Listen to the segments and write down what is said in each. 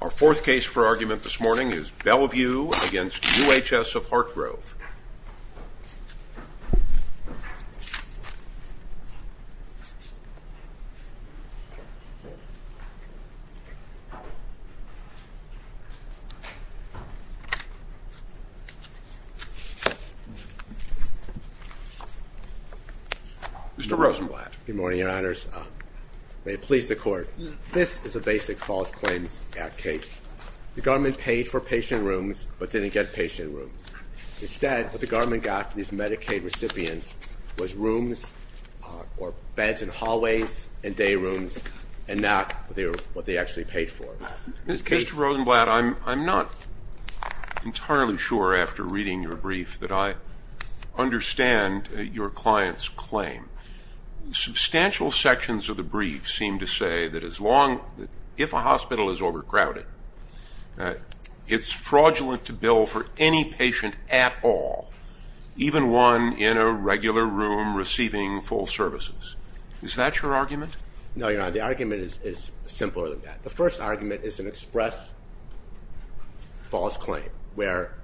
Our fourth case for argument this morning is Bellevue v. UHS of Hartgrove. Mr. Rosenblatt. Good morning, Your Honors. May it please the Court. This is a basic False Claims Act case. The government paid for patient rooms but didn't get patient rooms. Instead, what the government got for these Medicaid recipients was rooms or beds in hallways and day rooms and not what they actually paid for. Mr. Rosenblatt, I'm not entirely sure after reading your brief that I understand your client's claim. Substantial sections of the brief seem to say that if a hospital is overcrowded, it's fraudulent to bill for any patient at all, even one in a regular room receiving full services. Is that your argument? No, Your Honor. The argument is simpler than that. The first argument is an express false claim where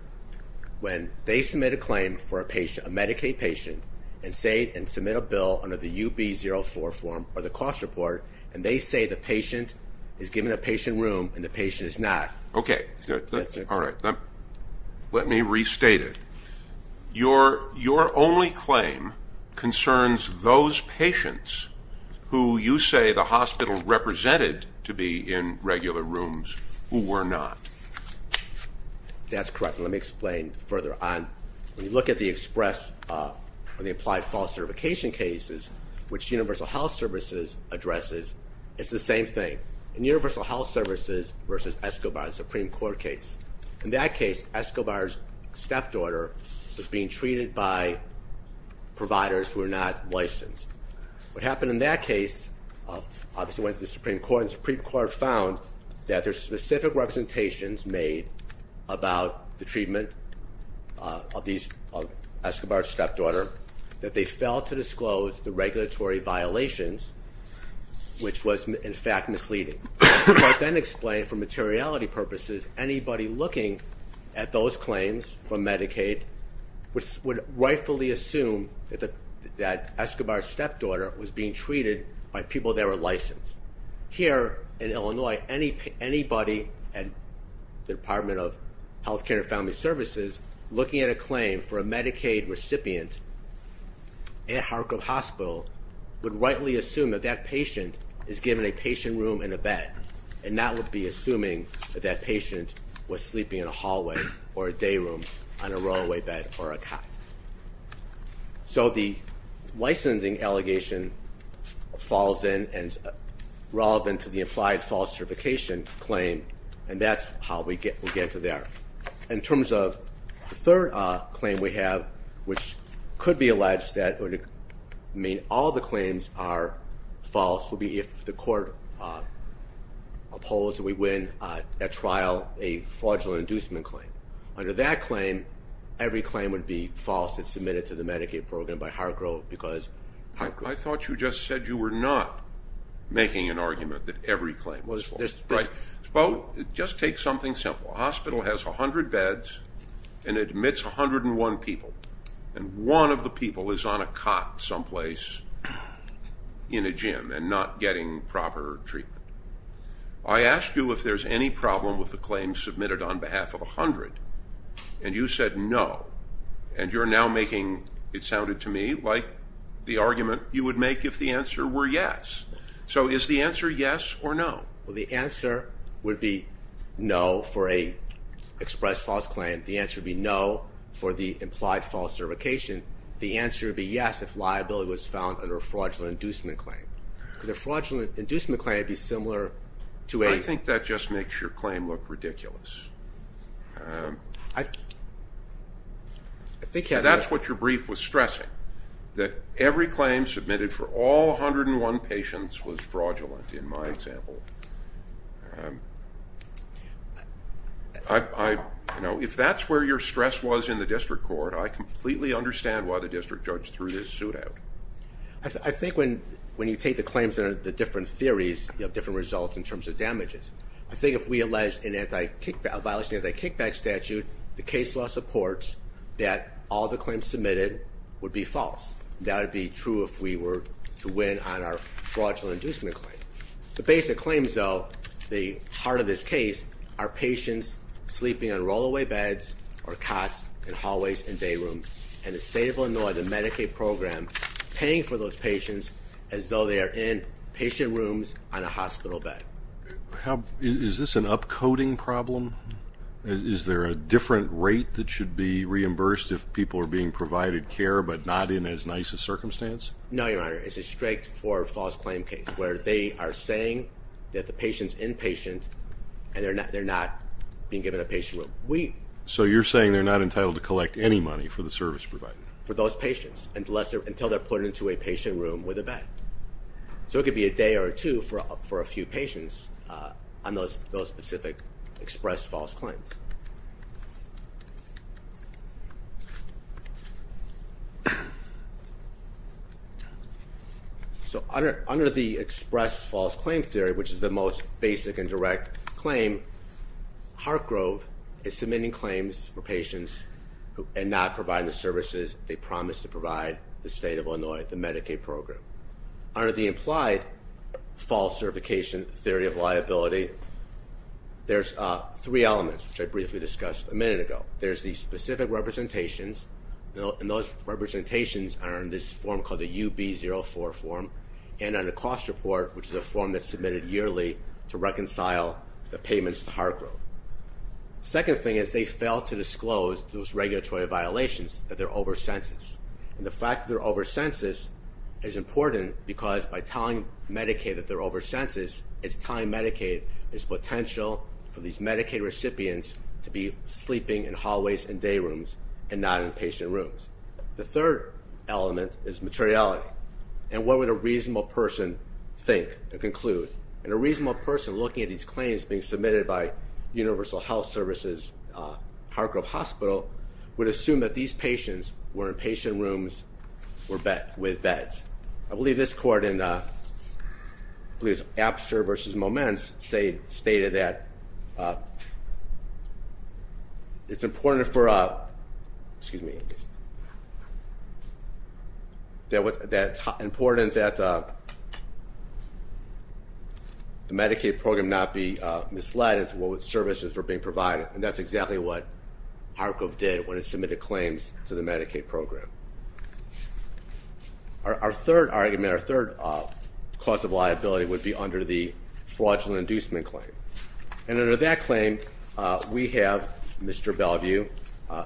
when they submit a claim for a Medicaid patient and submit a bill under the UB-04 form or the cost report, and they say the patient is given a patient room and the patient is not. Okay. All right. Let me restate it. Your only claim concerns those patients who you say the hospital represented to be in regular rooms who were not. That's correct. Let me explain further on. When you look at the express or the applied false certification cases, which Universal Health Services addresses, it's the same thing. In Universal Health Services versus Escobar, the Supreme Court case, in that case Escobar's stepdaughter was being treated by providers who were not licensed. What happened in that case obviously went to the Supreme Court, and the Supreme Court found that there's specific representations made about the treatment of Escobar's stepdaughter that they failed to disclose the regulatory violations, which was in fact misleading. But then explained for materiality purposes, anybody looking at those claims from Medicaid would rightfully assume that Escobar's stepdaughter was being treated by people that were licensed. Here in Illinois, anybody at the Department of Health Care and Family Services looking at a claim for a Medicaid recipient at Harcourt Hospital would rightly assume that that patient is given a patient room and a bed, and not would be assuming that that patient was sleeping in a hallway or a day room on a rollaway bed or a cot. So the licensing allegation falls in and is relevant to the implied false certification claim, and that's how we get to there. In terms of the third claim we have, which could be alleged that it would mean all the claims are false, would be if the court upholds and we win at trial a fraudulent inducement claim. Under that claim, every claim would be false and submitted to the Medicaid program by Harcourt. I thought you just said you were not making an argument that every claim was false. Well, just take something simple. A hospital has 100 beds and admits 101 people, and one of the people is on a cot someplace in a gym and not getting proper treatment. I asked you if there's any problem with the claim submitted on behalf of 100, and you said no. And you're now making, it sounded to me, like the argument you would make if the answer were yes. So is the answer yes or no? Well, the answer would be no for an expressed false claim. The answer would be no for the implied false certification. The answer would be yes if liability was found under a fraudulent inducement claim. Because a fraudulent inducement claim would be similar to a- I think that just makes your claim look ridiculous. That's what your brief was stressing, that every claim submitted for all 101 patients was fraudulent in my example. If that's where your stress was in the district court, I completely understand why the district judge threw this suit out. I think when you take the claims under the different theories, you have different results in terms of damages. I think if we alleged a violation of an anti-kickback statute, the case law supports that all the claims submitted would be false. That would be true if we were to win on our fraudulent inducement claim. The basic claims, though, the heart of this case, are patients sleeping on rollaway beds or cots in hallways and day rooms, and the state of Illinois, the Medicaid program, paying for those patients as though they are in patient rooms on a hospital bed. Is this an upcoding problem? Is there a different rate that should be reimbursed if people are being provided care but not in as nice a circumstance? No, Your Honor, it's a strict for false claim case, where they are saying that the patient's inpatient and they're not being given a patient room. So you're saying they're not entitled to collect any money for the service provided? For those patients until they're put into a patient room with a bed. So it could be a day or two for a few patients on those specific expressed false claims. So under the expressed false claim theory, which is the most basic and direct claim, Heartgrove is submitting claims for patients and not providing the services they promised to provide the state of Illinois, the Medicaid program. Under the implied false certification theory of liability, there's three elements, which I briefly discussed a minute ago. There's the specific representations, and those representations are in this form called the UB04 form, and on the cost report, which is a form that's submitted yearly to reconcile the payments to Heartgrove. The second thing is they fail to disclose those regulatory violations, that they're over census. And the fact that they're over census is important because by telling Medicaid that they're over census, it's telling Medicaid there's potential for these Medicaid recipients to be sleeping in hallways and day rooms and not in patient rooms. The third element is materiality. And what would a reasonable person think and conclude? And a reasonable person looking at these claims being submitted by Universal Health Services, Heartgrove Hospital, would assume that these patients were in patient rooms with beds. I believe this court in, I believe it's Apster versus Moments, stated that it's important for, excuse me, that it's important that the Medicaid program not be misled into what services were being provided. And that's exactly what Heartgrove did when it submitted claims to the Medicaid program. Our third argument, our third cause of liability would be under the fraudulent inducement claim. And under that claim, we have Mr. Bellevue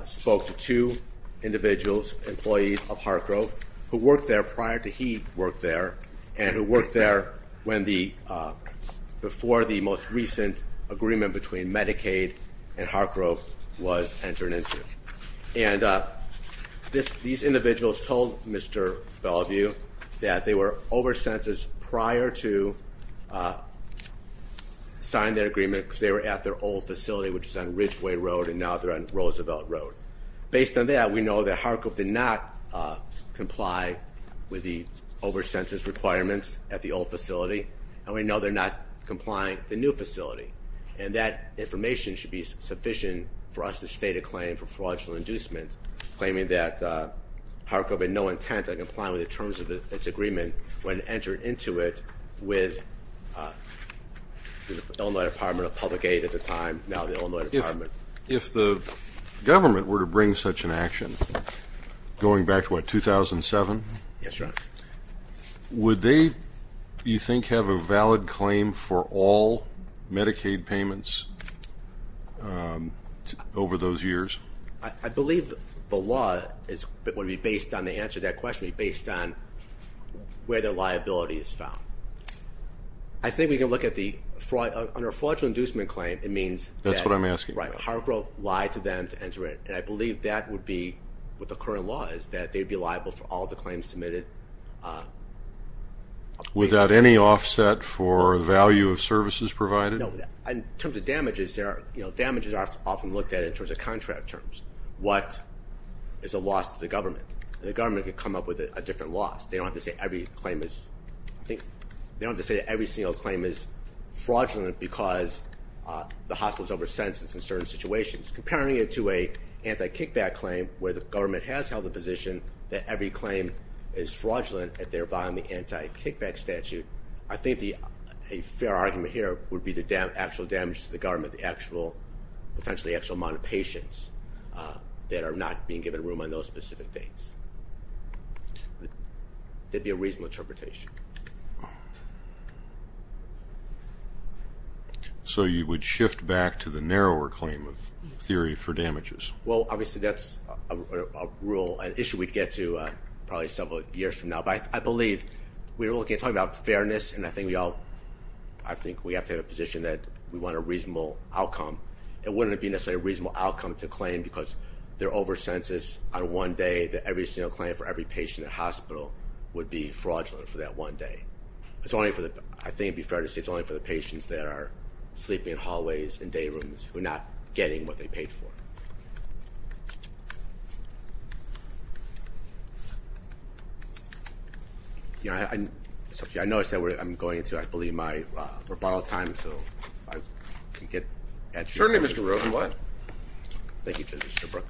spoke to two individuals, employees of Heartgrove, who worked there prior to he worked there, and who worked there before the most recent agreement between Medicaid and Heartgrove was entered into. And these individuals told Mr. Bellevue that they were over census prior to signing their agreement because they were at their old facility, which is on Ridgeway Road, and now they're on Roosevelt Road. Based on that, we know that Heartgrove did not comply with the over census requirements at the old facility, and we know they're not complying at the new facility. And that information should be sufficient for us to state a claim for fraudulent inducement, claiming that Heartgrove had no intent of complying with the terms of its agreement when it entered into it with the Illinois Department of Public Aid at the time, now the Illinois Department. If the government were to bring such an action, going back to what, 2007? Yes, Your Honor. Would they, you think, have a valid claim for all Medicaid payments over those years? I believe the law would be based on the answer to that question, based on where their liability is found. I think we can look at the fraud. Under a fraudulent inducement claim, it means- That's what I'm asking. Right, Heartgrove lied to them to enter it. And I believe that would be what the current law is, that they'd be liable for all the claims submitted. Without any offset for the value of services provided? No. In terms of damages, there are, you know, damages are often looked at in terms of contract terms. What is a loss to the government? The government could come up with a different loss. They don't have to say every claim is, I think, they don't have to say that every single claim is fraudulent because the hospital's over census in certain situations. Comparing it to an anti-kickback claim where the government has held the position that every claim is fraudulent, and they're buying the anti-kickback statute, I think a fair argument here would be the actual damage to the government, the actual, potentially actual amount of patients that are not being given room on those specific dates. That would be a reasonable interpretation. So you would shift back to the narrower claim of theory for damages? Well, obviously that's a rule, an issue we'd get to probably several years from now. But I believe we're talking about fairness, and I think we all, I think we have to have a position that we want a reasonable outcome. It wouldn't be necessarily a reasonable outcome to claim because they're over census on one day, and I don't think that every single claim for every patient in the hospital would be fraudulent for that one day. It's only for the, I think it would be fair to say it's only for the patients that are sleeping in hallways and day rooms who are not getting what they paid for. I noticed that I'm going into, I believe, my rebuttal time, so if I could get- Attorney, Mr. Rosenblatt. Thank you, Justice DeBrook.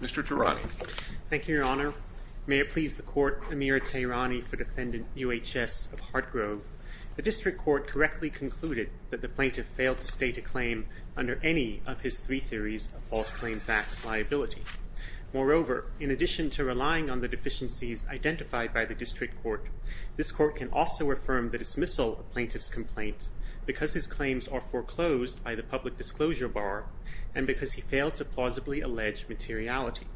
Mr. Tirani. Thank you, Your Honor. May it please the court, Amir Tirani for Defendant UHS of Hartgrove. The district court correctly concluded that the plaintiff failed to state a claim under any of his three theories of False Claims Act liability. Moreover, in addition to relying on the deficiencies identified by the district court, this court can also affirm the dismissal of plaintiff's complaint because his claims are foreclosed by the public disclosure bar and because he failed to plausibly allege materiality.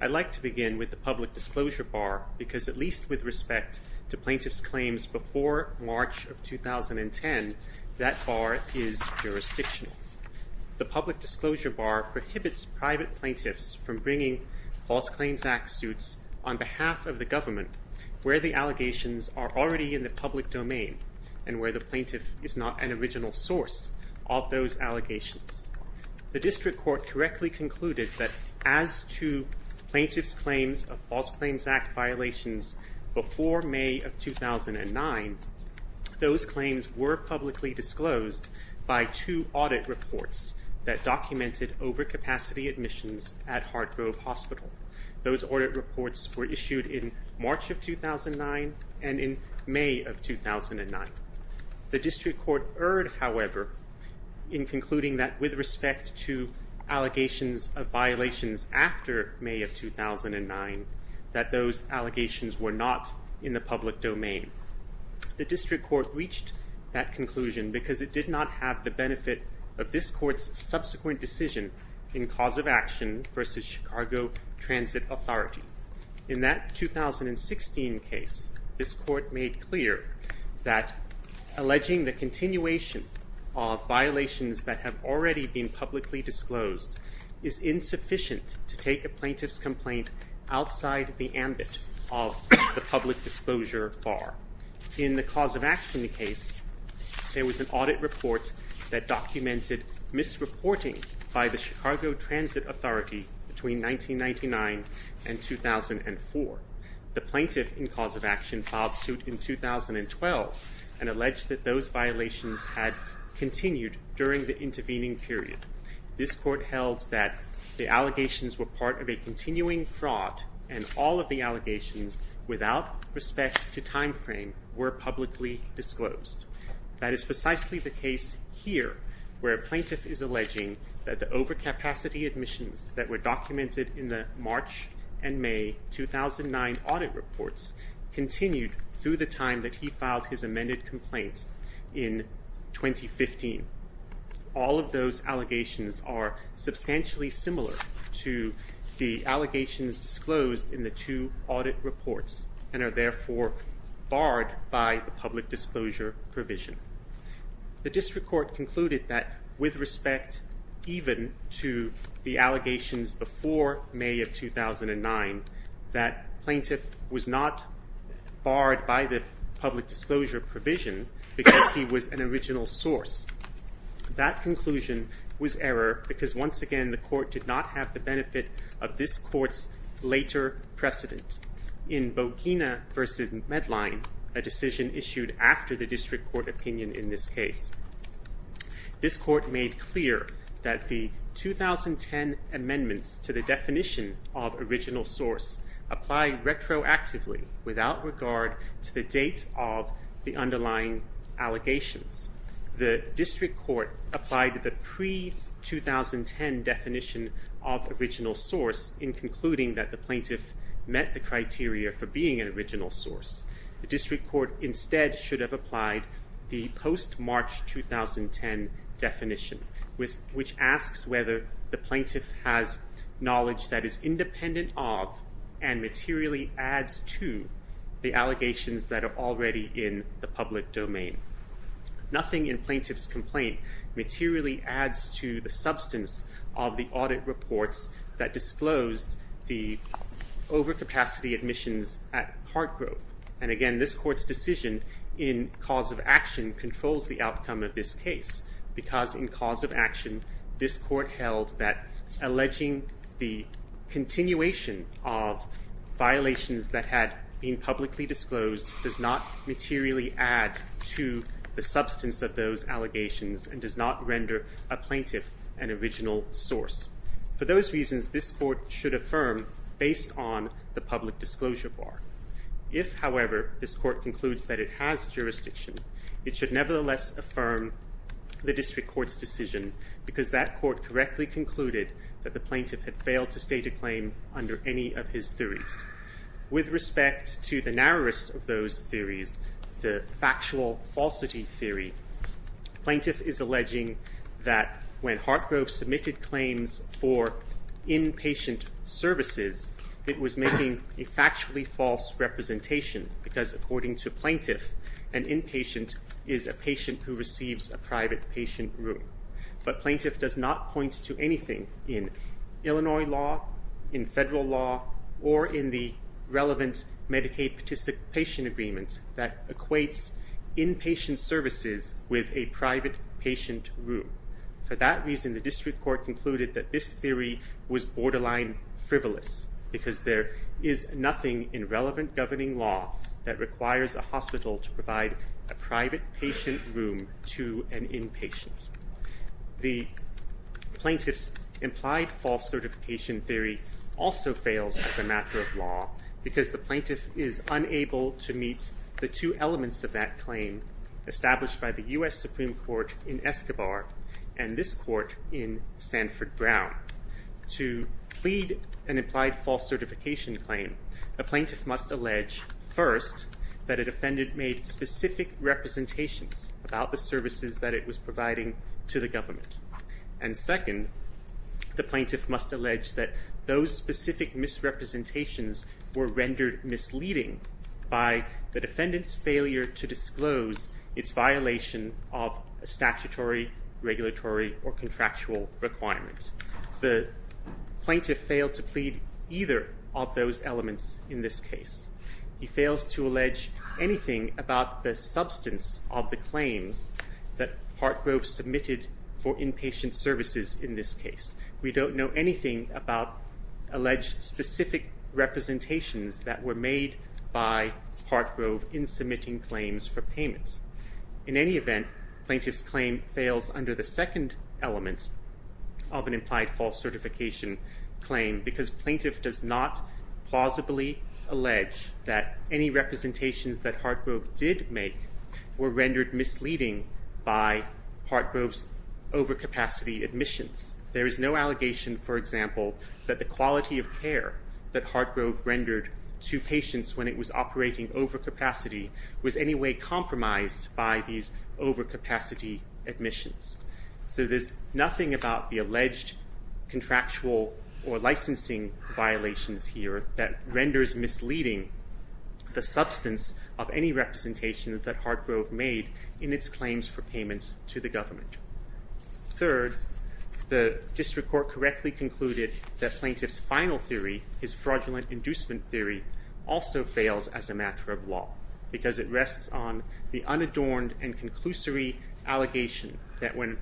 I'd like to begin with the public disclosure bar because at least with respect to plaintiff's claims before March of 2010, that bar is jurisdictional. The public disclosure bar prohibits private plaintiffs from bringing False Claims Act suits on behalf of the government where the allegations are already in the public domain and where the plaintiff is not an original source of those allegations. The district court correctly concluded that as to plaintiff's claims of False Claims Act violations before May of 2009, those claims were publicly disclosed by two audit reports that documented overcapacity admissions at Hartgrove Hospital. Those audit reports were issued in March of 2009 and in May of 2009. The district court erred, however, in concluding that with respect to allegations of violations after May of 2009, that those allegations were not in the public domain. The district court reached that conclusion because it did not have the benefit of this court's subsequent decision in cause of action versus Chicago Transit Authority. In that 2016 case, this court made clear that alleging the continuation of violations that have already been publicly disclosed is insufficient to take a plaintiff's complaint outside the ambit of the public disclosure bar. In the cause of action case, there was an audit report that documented misreporting by the Chicago Transit Authority between 1999 and 2004. The plaintiff in cause of action filed suit in 2012 and alleged that those violations had continued during the intervening period. This court held that the allegations were part of a continuing fraud and all of the allegations without respect to time frame were publicly disclosed. That is precisely the case here where a plaintiff is alleging that the overcapacity admissions that were documented in the March and May 2009 audit reports continued through the time that he filed his amended complaint in 2015. All of those allegations are substantially similar to the allegations disclosed in the two audit reports and are therefore barred by the public disclosure provision. The district court concluded that with respect even to the allegations before May of 2009, that plaintiff was not barred by the public disclosure provision because he was an original source. That conclusion was error because once again the court did not have the benefit of this court's later precedent. In Bogina v. Medline, a decision issued after the district court opinion in this case, this court made clear that the 2010 amendments to the definition of original source apply retroactively without regard to the date of the underlying allegations. The district court applied the pre-2010 definition of original source in concluding that the plaintiff met the criteria for being an original source. The district court instead should have applied the post-March 2010 definition which asks whether the plaintiff has knowledge that is independent of and materially adds to the allegations that are already in the public domain. Nothing in plaintiff's complaint materially adds to the substance of the audit reports that disclosed the overcapacity admissions at Hartgrove. And again, this court's decision in cause of action controls the outcome of this case because in cause of action this court held that alleging the continuation of violations that had been publicly disclosed does not materially add to the substance of those allegations and does not render a plaintiff an original source. For those reasons, this court should affirm based on the public disclosure bar. If, however, this court concludes that it has jurisdiction, it should nevertheless affirm the district court's decision because that court correctly concluded that the plaintiff had failed to state a claim under any of his theories. With respect to the narrowest of those theories, the factual falsity theory, plaintiff is alleging that when Hartgrove submitted claims for inpatient services, it was making a factually false representation because according to plaintiff an inpatient is a patient who receives a private patient room. But plaintiff does not point to anything in Illinois law, in federal law, or in the relevant Medicaid participation agreement that equates inpatient services with a private patient room. For that reason, the district court concluded that this theory was borderline frivolous because there is nothing in relevant governing law that requires a hospital to provide a private patient room to an inpatient. The plaintiff's implied false certification theory also fails as a matter of law because the plaintiff is unable to meet the two elements of that claim established by the U.S. Supreme Court in Escobar and this court in Sanford Brown. To plead an implied false certification claim, a plaintiff must allege first that a defendant made specific representations about the services that it was providing to the government. And second, the plaintiff must allege that those specific misrepresentations were rendered misleading by the defendant's failure to disclose its violation of a statutory, regulatory, or contractual requirement. The plaintiff failed to plead either of those elements in this case. He fails to allege anything about the substance of the claims that Hartgrove submitted for inpatient services in this case. We don't know anything about alleged specific representations that were made by Hartgrove in submitting claims for payment. In any event, plaintiff's claim fails under the second element of an implied false certification claim because plaintiff does not plausibly allege that any representations that Hartgrove did make were rendered misleading by Hartgrove's overcapacity admissions. There is no allegation, for example, that the quality of care that Hartgrove rendered to patients when it was operating overcapacity was any way compromised by these overcapacity admissions. So there's nothing about the alleged contractual or licensing violations here that renders misleading the substance of any representations that Hartgrove made in its claims for payment to the government. Third, the district court correctly concluded that plaintiff's final theory, his fraudulent inducement theory, also fails as a matter of law because it rests on the unadorned and conclusory allegation that when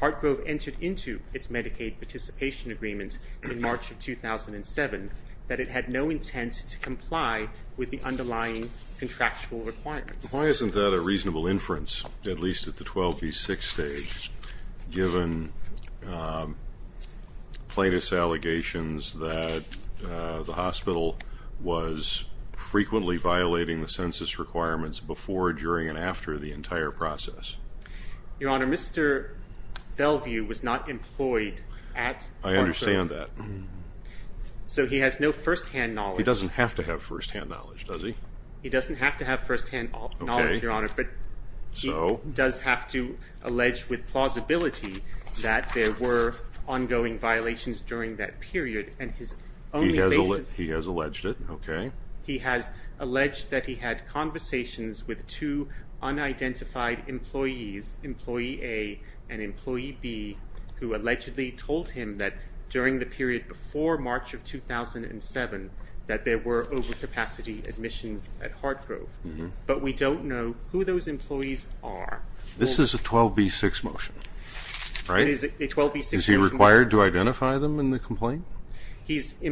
Hartgrove entered into its Medicaid participation agreement in March of 2007, that it had no intent to comply with the underlying contractual requirements. Why isn't that a reasonable inference, at least at the 12B6 stage, given plaintiff's allegations that the hospital was frequently violating the census requirements before, during, and after the entire process? Your Honor, Mr. Bellevue was not employed at Hartgrove. I understand that. So he has no firsthand knowledge. He doesn't have to have firsthand knowledge, does he? He doesn't have to have firsthand knowledge, Your Honor, but he does have to allege with plausibility that there were ongoing violations during that period. He has alleged it, okay. He has alleged that he had conversations with two unidentified employees, employee A and employee B, who allegedly told him that during the period before March of 2007 that there were overcapacity admissions at Hartgrove. But we don't know who those employees are. This is a 12B6 motion, right? It is a 12B6 motion. Is he required to identify them in the complaint? He's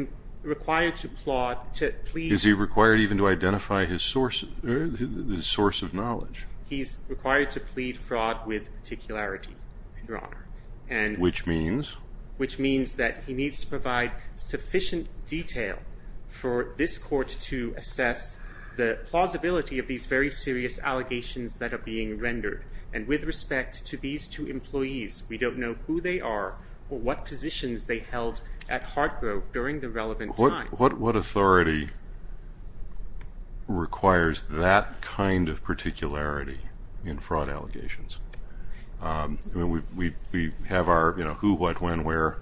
required to plead. Is he required even to identify his source of knowledge? He's required to plead fraud with particularity, Your Honor. Which means? Which means that he needs to provide sufficient detail for this court to assess the plausibility of these very serious allegations that are being rendered. And with respect to these two employees, we don't know who they are or what positions they held at Hartgrove during the relevant time. What authority requires that kind of particularity in fraud allegations? We have our who, what, when, where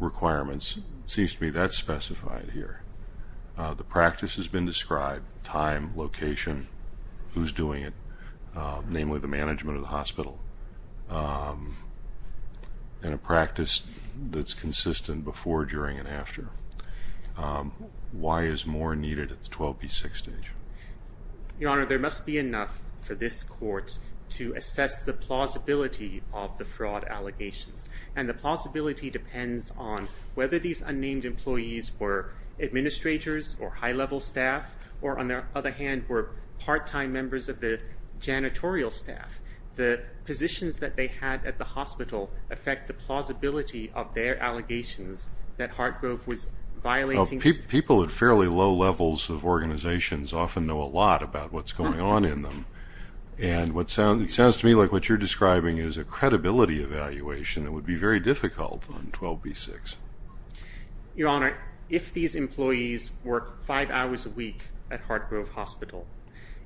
requirements. It seems to me that's specified here. The practice has been described, time, location, who's doing it, namely the management of the hospital, and a practice that's consistent before, during, and after. Why is more needed at the 12B6 stage? Your Honor, there must be enough for this court to assess the plausibility of the fraud allegations. And the plausibility depends on whether these unnamed employees were administrators or high-level staff or, on the other hand, were part-time members of the janitorial staff. The positions that they had at the hospital affect the plausibility of their allegations that Hartgrove was violating. People at fairly low levels of organizations often know a lot about what's going on in them. And it sounds to me like what you're describing is a credibility evaluation that would be very difficult on 12B6. Your Honor, if these employees work five hours a week at Hartgrove Hospital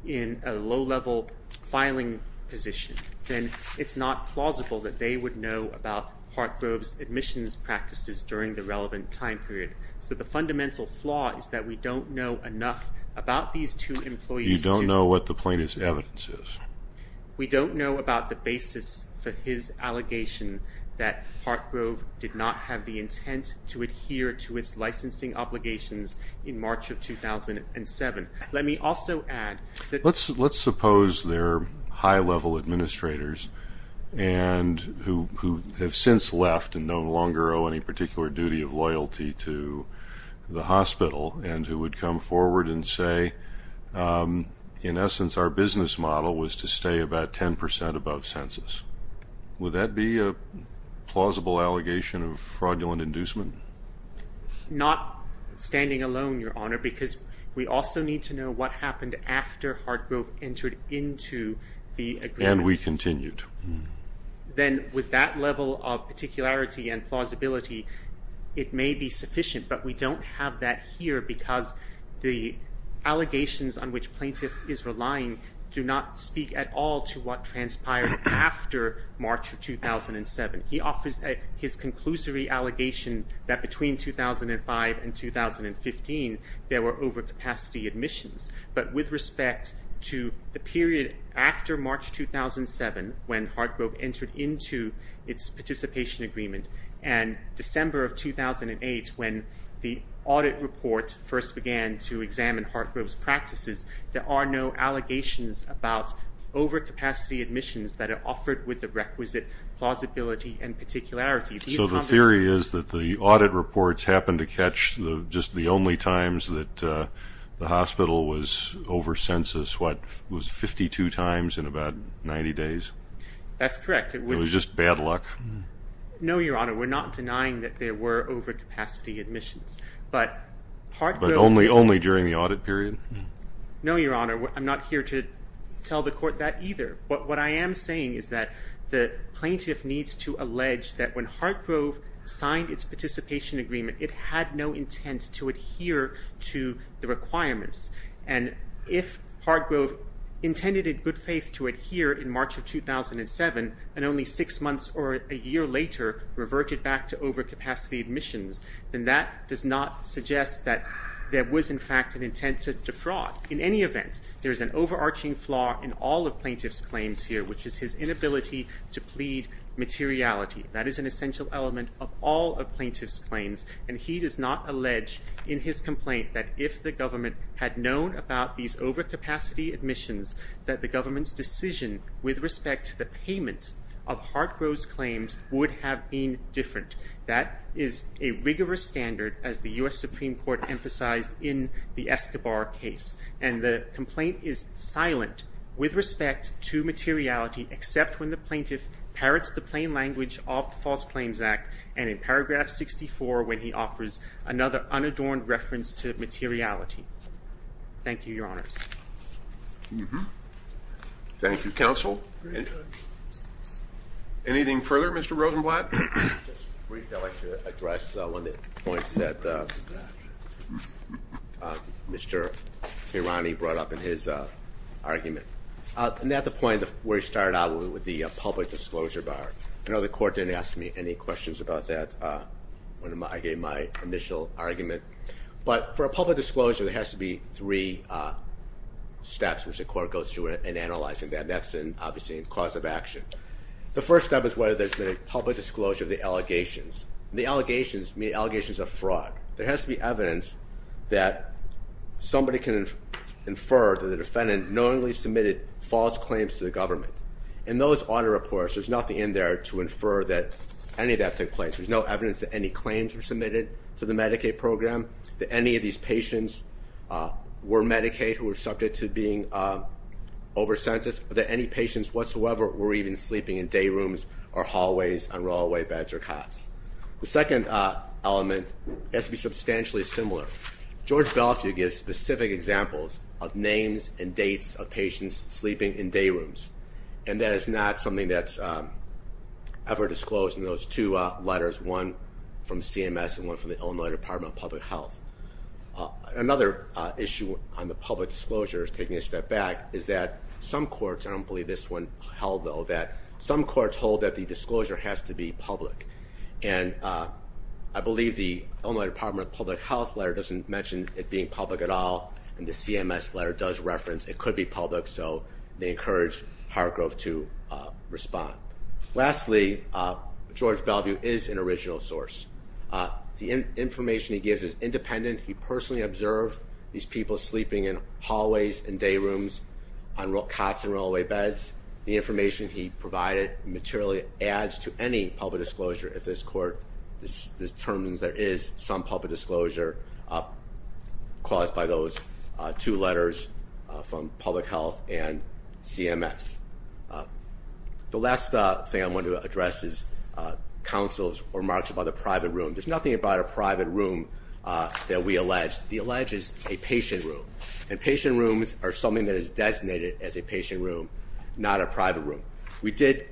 in a low-level filing position, then it's not plausible that they would know about Hartgrove's admissions practices during the relevant time period. So the fundamental flaw is that we don't know enough about these two employees. You don't know what the plaintiff's evidence is. We don't know about the basis for his allegation that Hartgrove did not have the intent to adhere to its licensing obligations in March of 2007. Let me also add that. Let's suppose they're high-level administrators who have since left and no longer owe any particular duty of loyalty to the hospital and who would come forward and say, in essence, our business model was to stay about 10% above census. Would that be a plausible allegation of fraudulent inducement? Not standing alone, Your Honor, because we also need to know what happened after Hartgrove entered into the agreement. And we continued. Then with that level of particularity and plausibility, it may be sufficient, but we don't have that here because the allegations on which plaintiff is relying do not speak at all to what transpired after March of 2007. He offers his conclusory allegation that between 2005 and 2015, there were overcapacity admissions. But with respect to the period after March 2007, when Hartgrove entered into its participation agreement, and December of 2008 when the audit report first began to examine Hartgrove's practices, there are no allegations about overcapacity admissions that are offered with the requisite plausibility and particularity. So the theory is that the audit reports happen to catch just the only times that the hospital was over census, what, was 52 times in about 90 days? That's correct. It was just bad luck. No, Your Honor. We're not denying that there were overcapacity admissions. But only during the audit period? No, Your Honor. I'm not here to tell the Court that either. What I am saying is that the plaintiff needs to allege that when Hartgrove signed its participation agreement, it had no intent to adhere to the requirements. And if Hartgrove intended in good faith to adhere in March of 2007, and only six months or a year later reverted back to overcapacity admissions, then that does not suggest that there was, in fact, an intent to defraud. In any event, there is an overarching flaw in all of plaintiff's claims here, which is his inability to plead materiality. That is an essential element of all of plaintiff's claims, and he does not allege in his complaint that if the government had known about these overcapacity admissions, that the government's decision with respect to the payment of Hartgrove's claims would have been different. That is a rigorous standard, as the U.S. Supreme Court emphasized in the Escobar case. And the complaint is silent with respect to materiality, except when the plaintiff parrots the plain language of the False Claims Act, and in paragraph 64 when he offers another unadorned reference to materiality. Thank you, Your Honors. Thank you, Counsel. Anything further, Mr. Rosenblatt? Just briefly, I'd like to address one of the points that Mr. Tirani brought up in his argument. And that's the point where he started out with the public disclosure bar. I know the court didn't ask me any questions about that when I gave my initial argument. But for a public disclosure, there has to be three steps which the court goes through in analyzing that, and that's obviously a cause of action. The first step is whether there's been a public disclosure of the allegations. The allegations mean allegations of fraud. There has to be evidence that somebody can infer that the defendant knowingly submitted false claims to the government. In those audit reports, there's nothing in there to infer that any of that took place. There's no evidence that any claims were submitted to the Medicaid program, that any of these patients were Medicaid who were subject to being over-censused, or that any patients whatsoever were even sleeping in dayrooms or hallways on rollaway beds or cots. The second element has to be substantially similar. George Belfiore gives specific examples of names and dates of patients sleeping in dayrooms, and that is not something that's ever disclosed in those two letters, one from CMS and one from the Illinois Department of Public Health. Another issue on the public disclosures, taking a step back, is that some courts, I don't believe this one held, though, that some courts hold that the disclosure has to be public. And I believe the Illinois Department of Public Health letter doesn't mention it being public at all, and the CMS letter does reference it could be public, so they encourage Howard Grove to respond. Lastly, George Belfiore is an original source. The information he gives is independent. He personally observed these people sleeping in hallways and dayrooms on cots and rollaway beds. The information he provided materially adds to any public disclosure if this court determines there is some public disclosure caused by those two letters from public health and CMS. The last thing I want to address is counsel's remarks about a private room. There's nothing about a private room that we allege. The allege is a patient room, and patient rooms are something that is designated as a patient room, not a private room. We did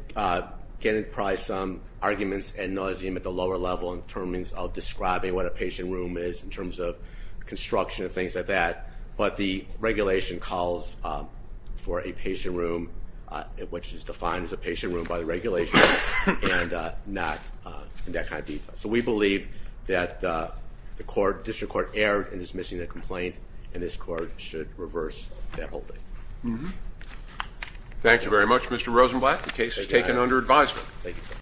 get probably some arguments and nauseam at the lower level in terms of describing what a patient room is in terms of construction and things like that, but the regulation calls for a patient room which is defined as a patient room by the regulation and not in that kind of detail. So we believe that the district court erred in dismissing the complaint, and this court should reverse that holding. Thank you very much, Mr. Rosenblatt. The case is taken under advisement.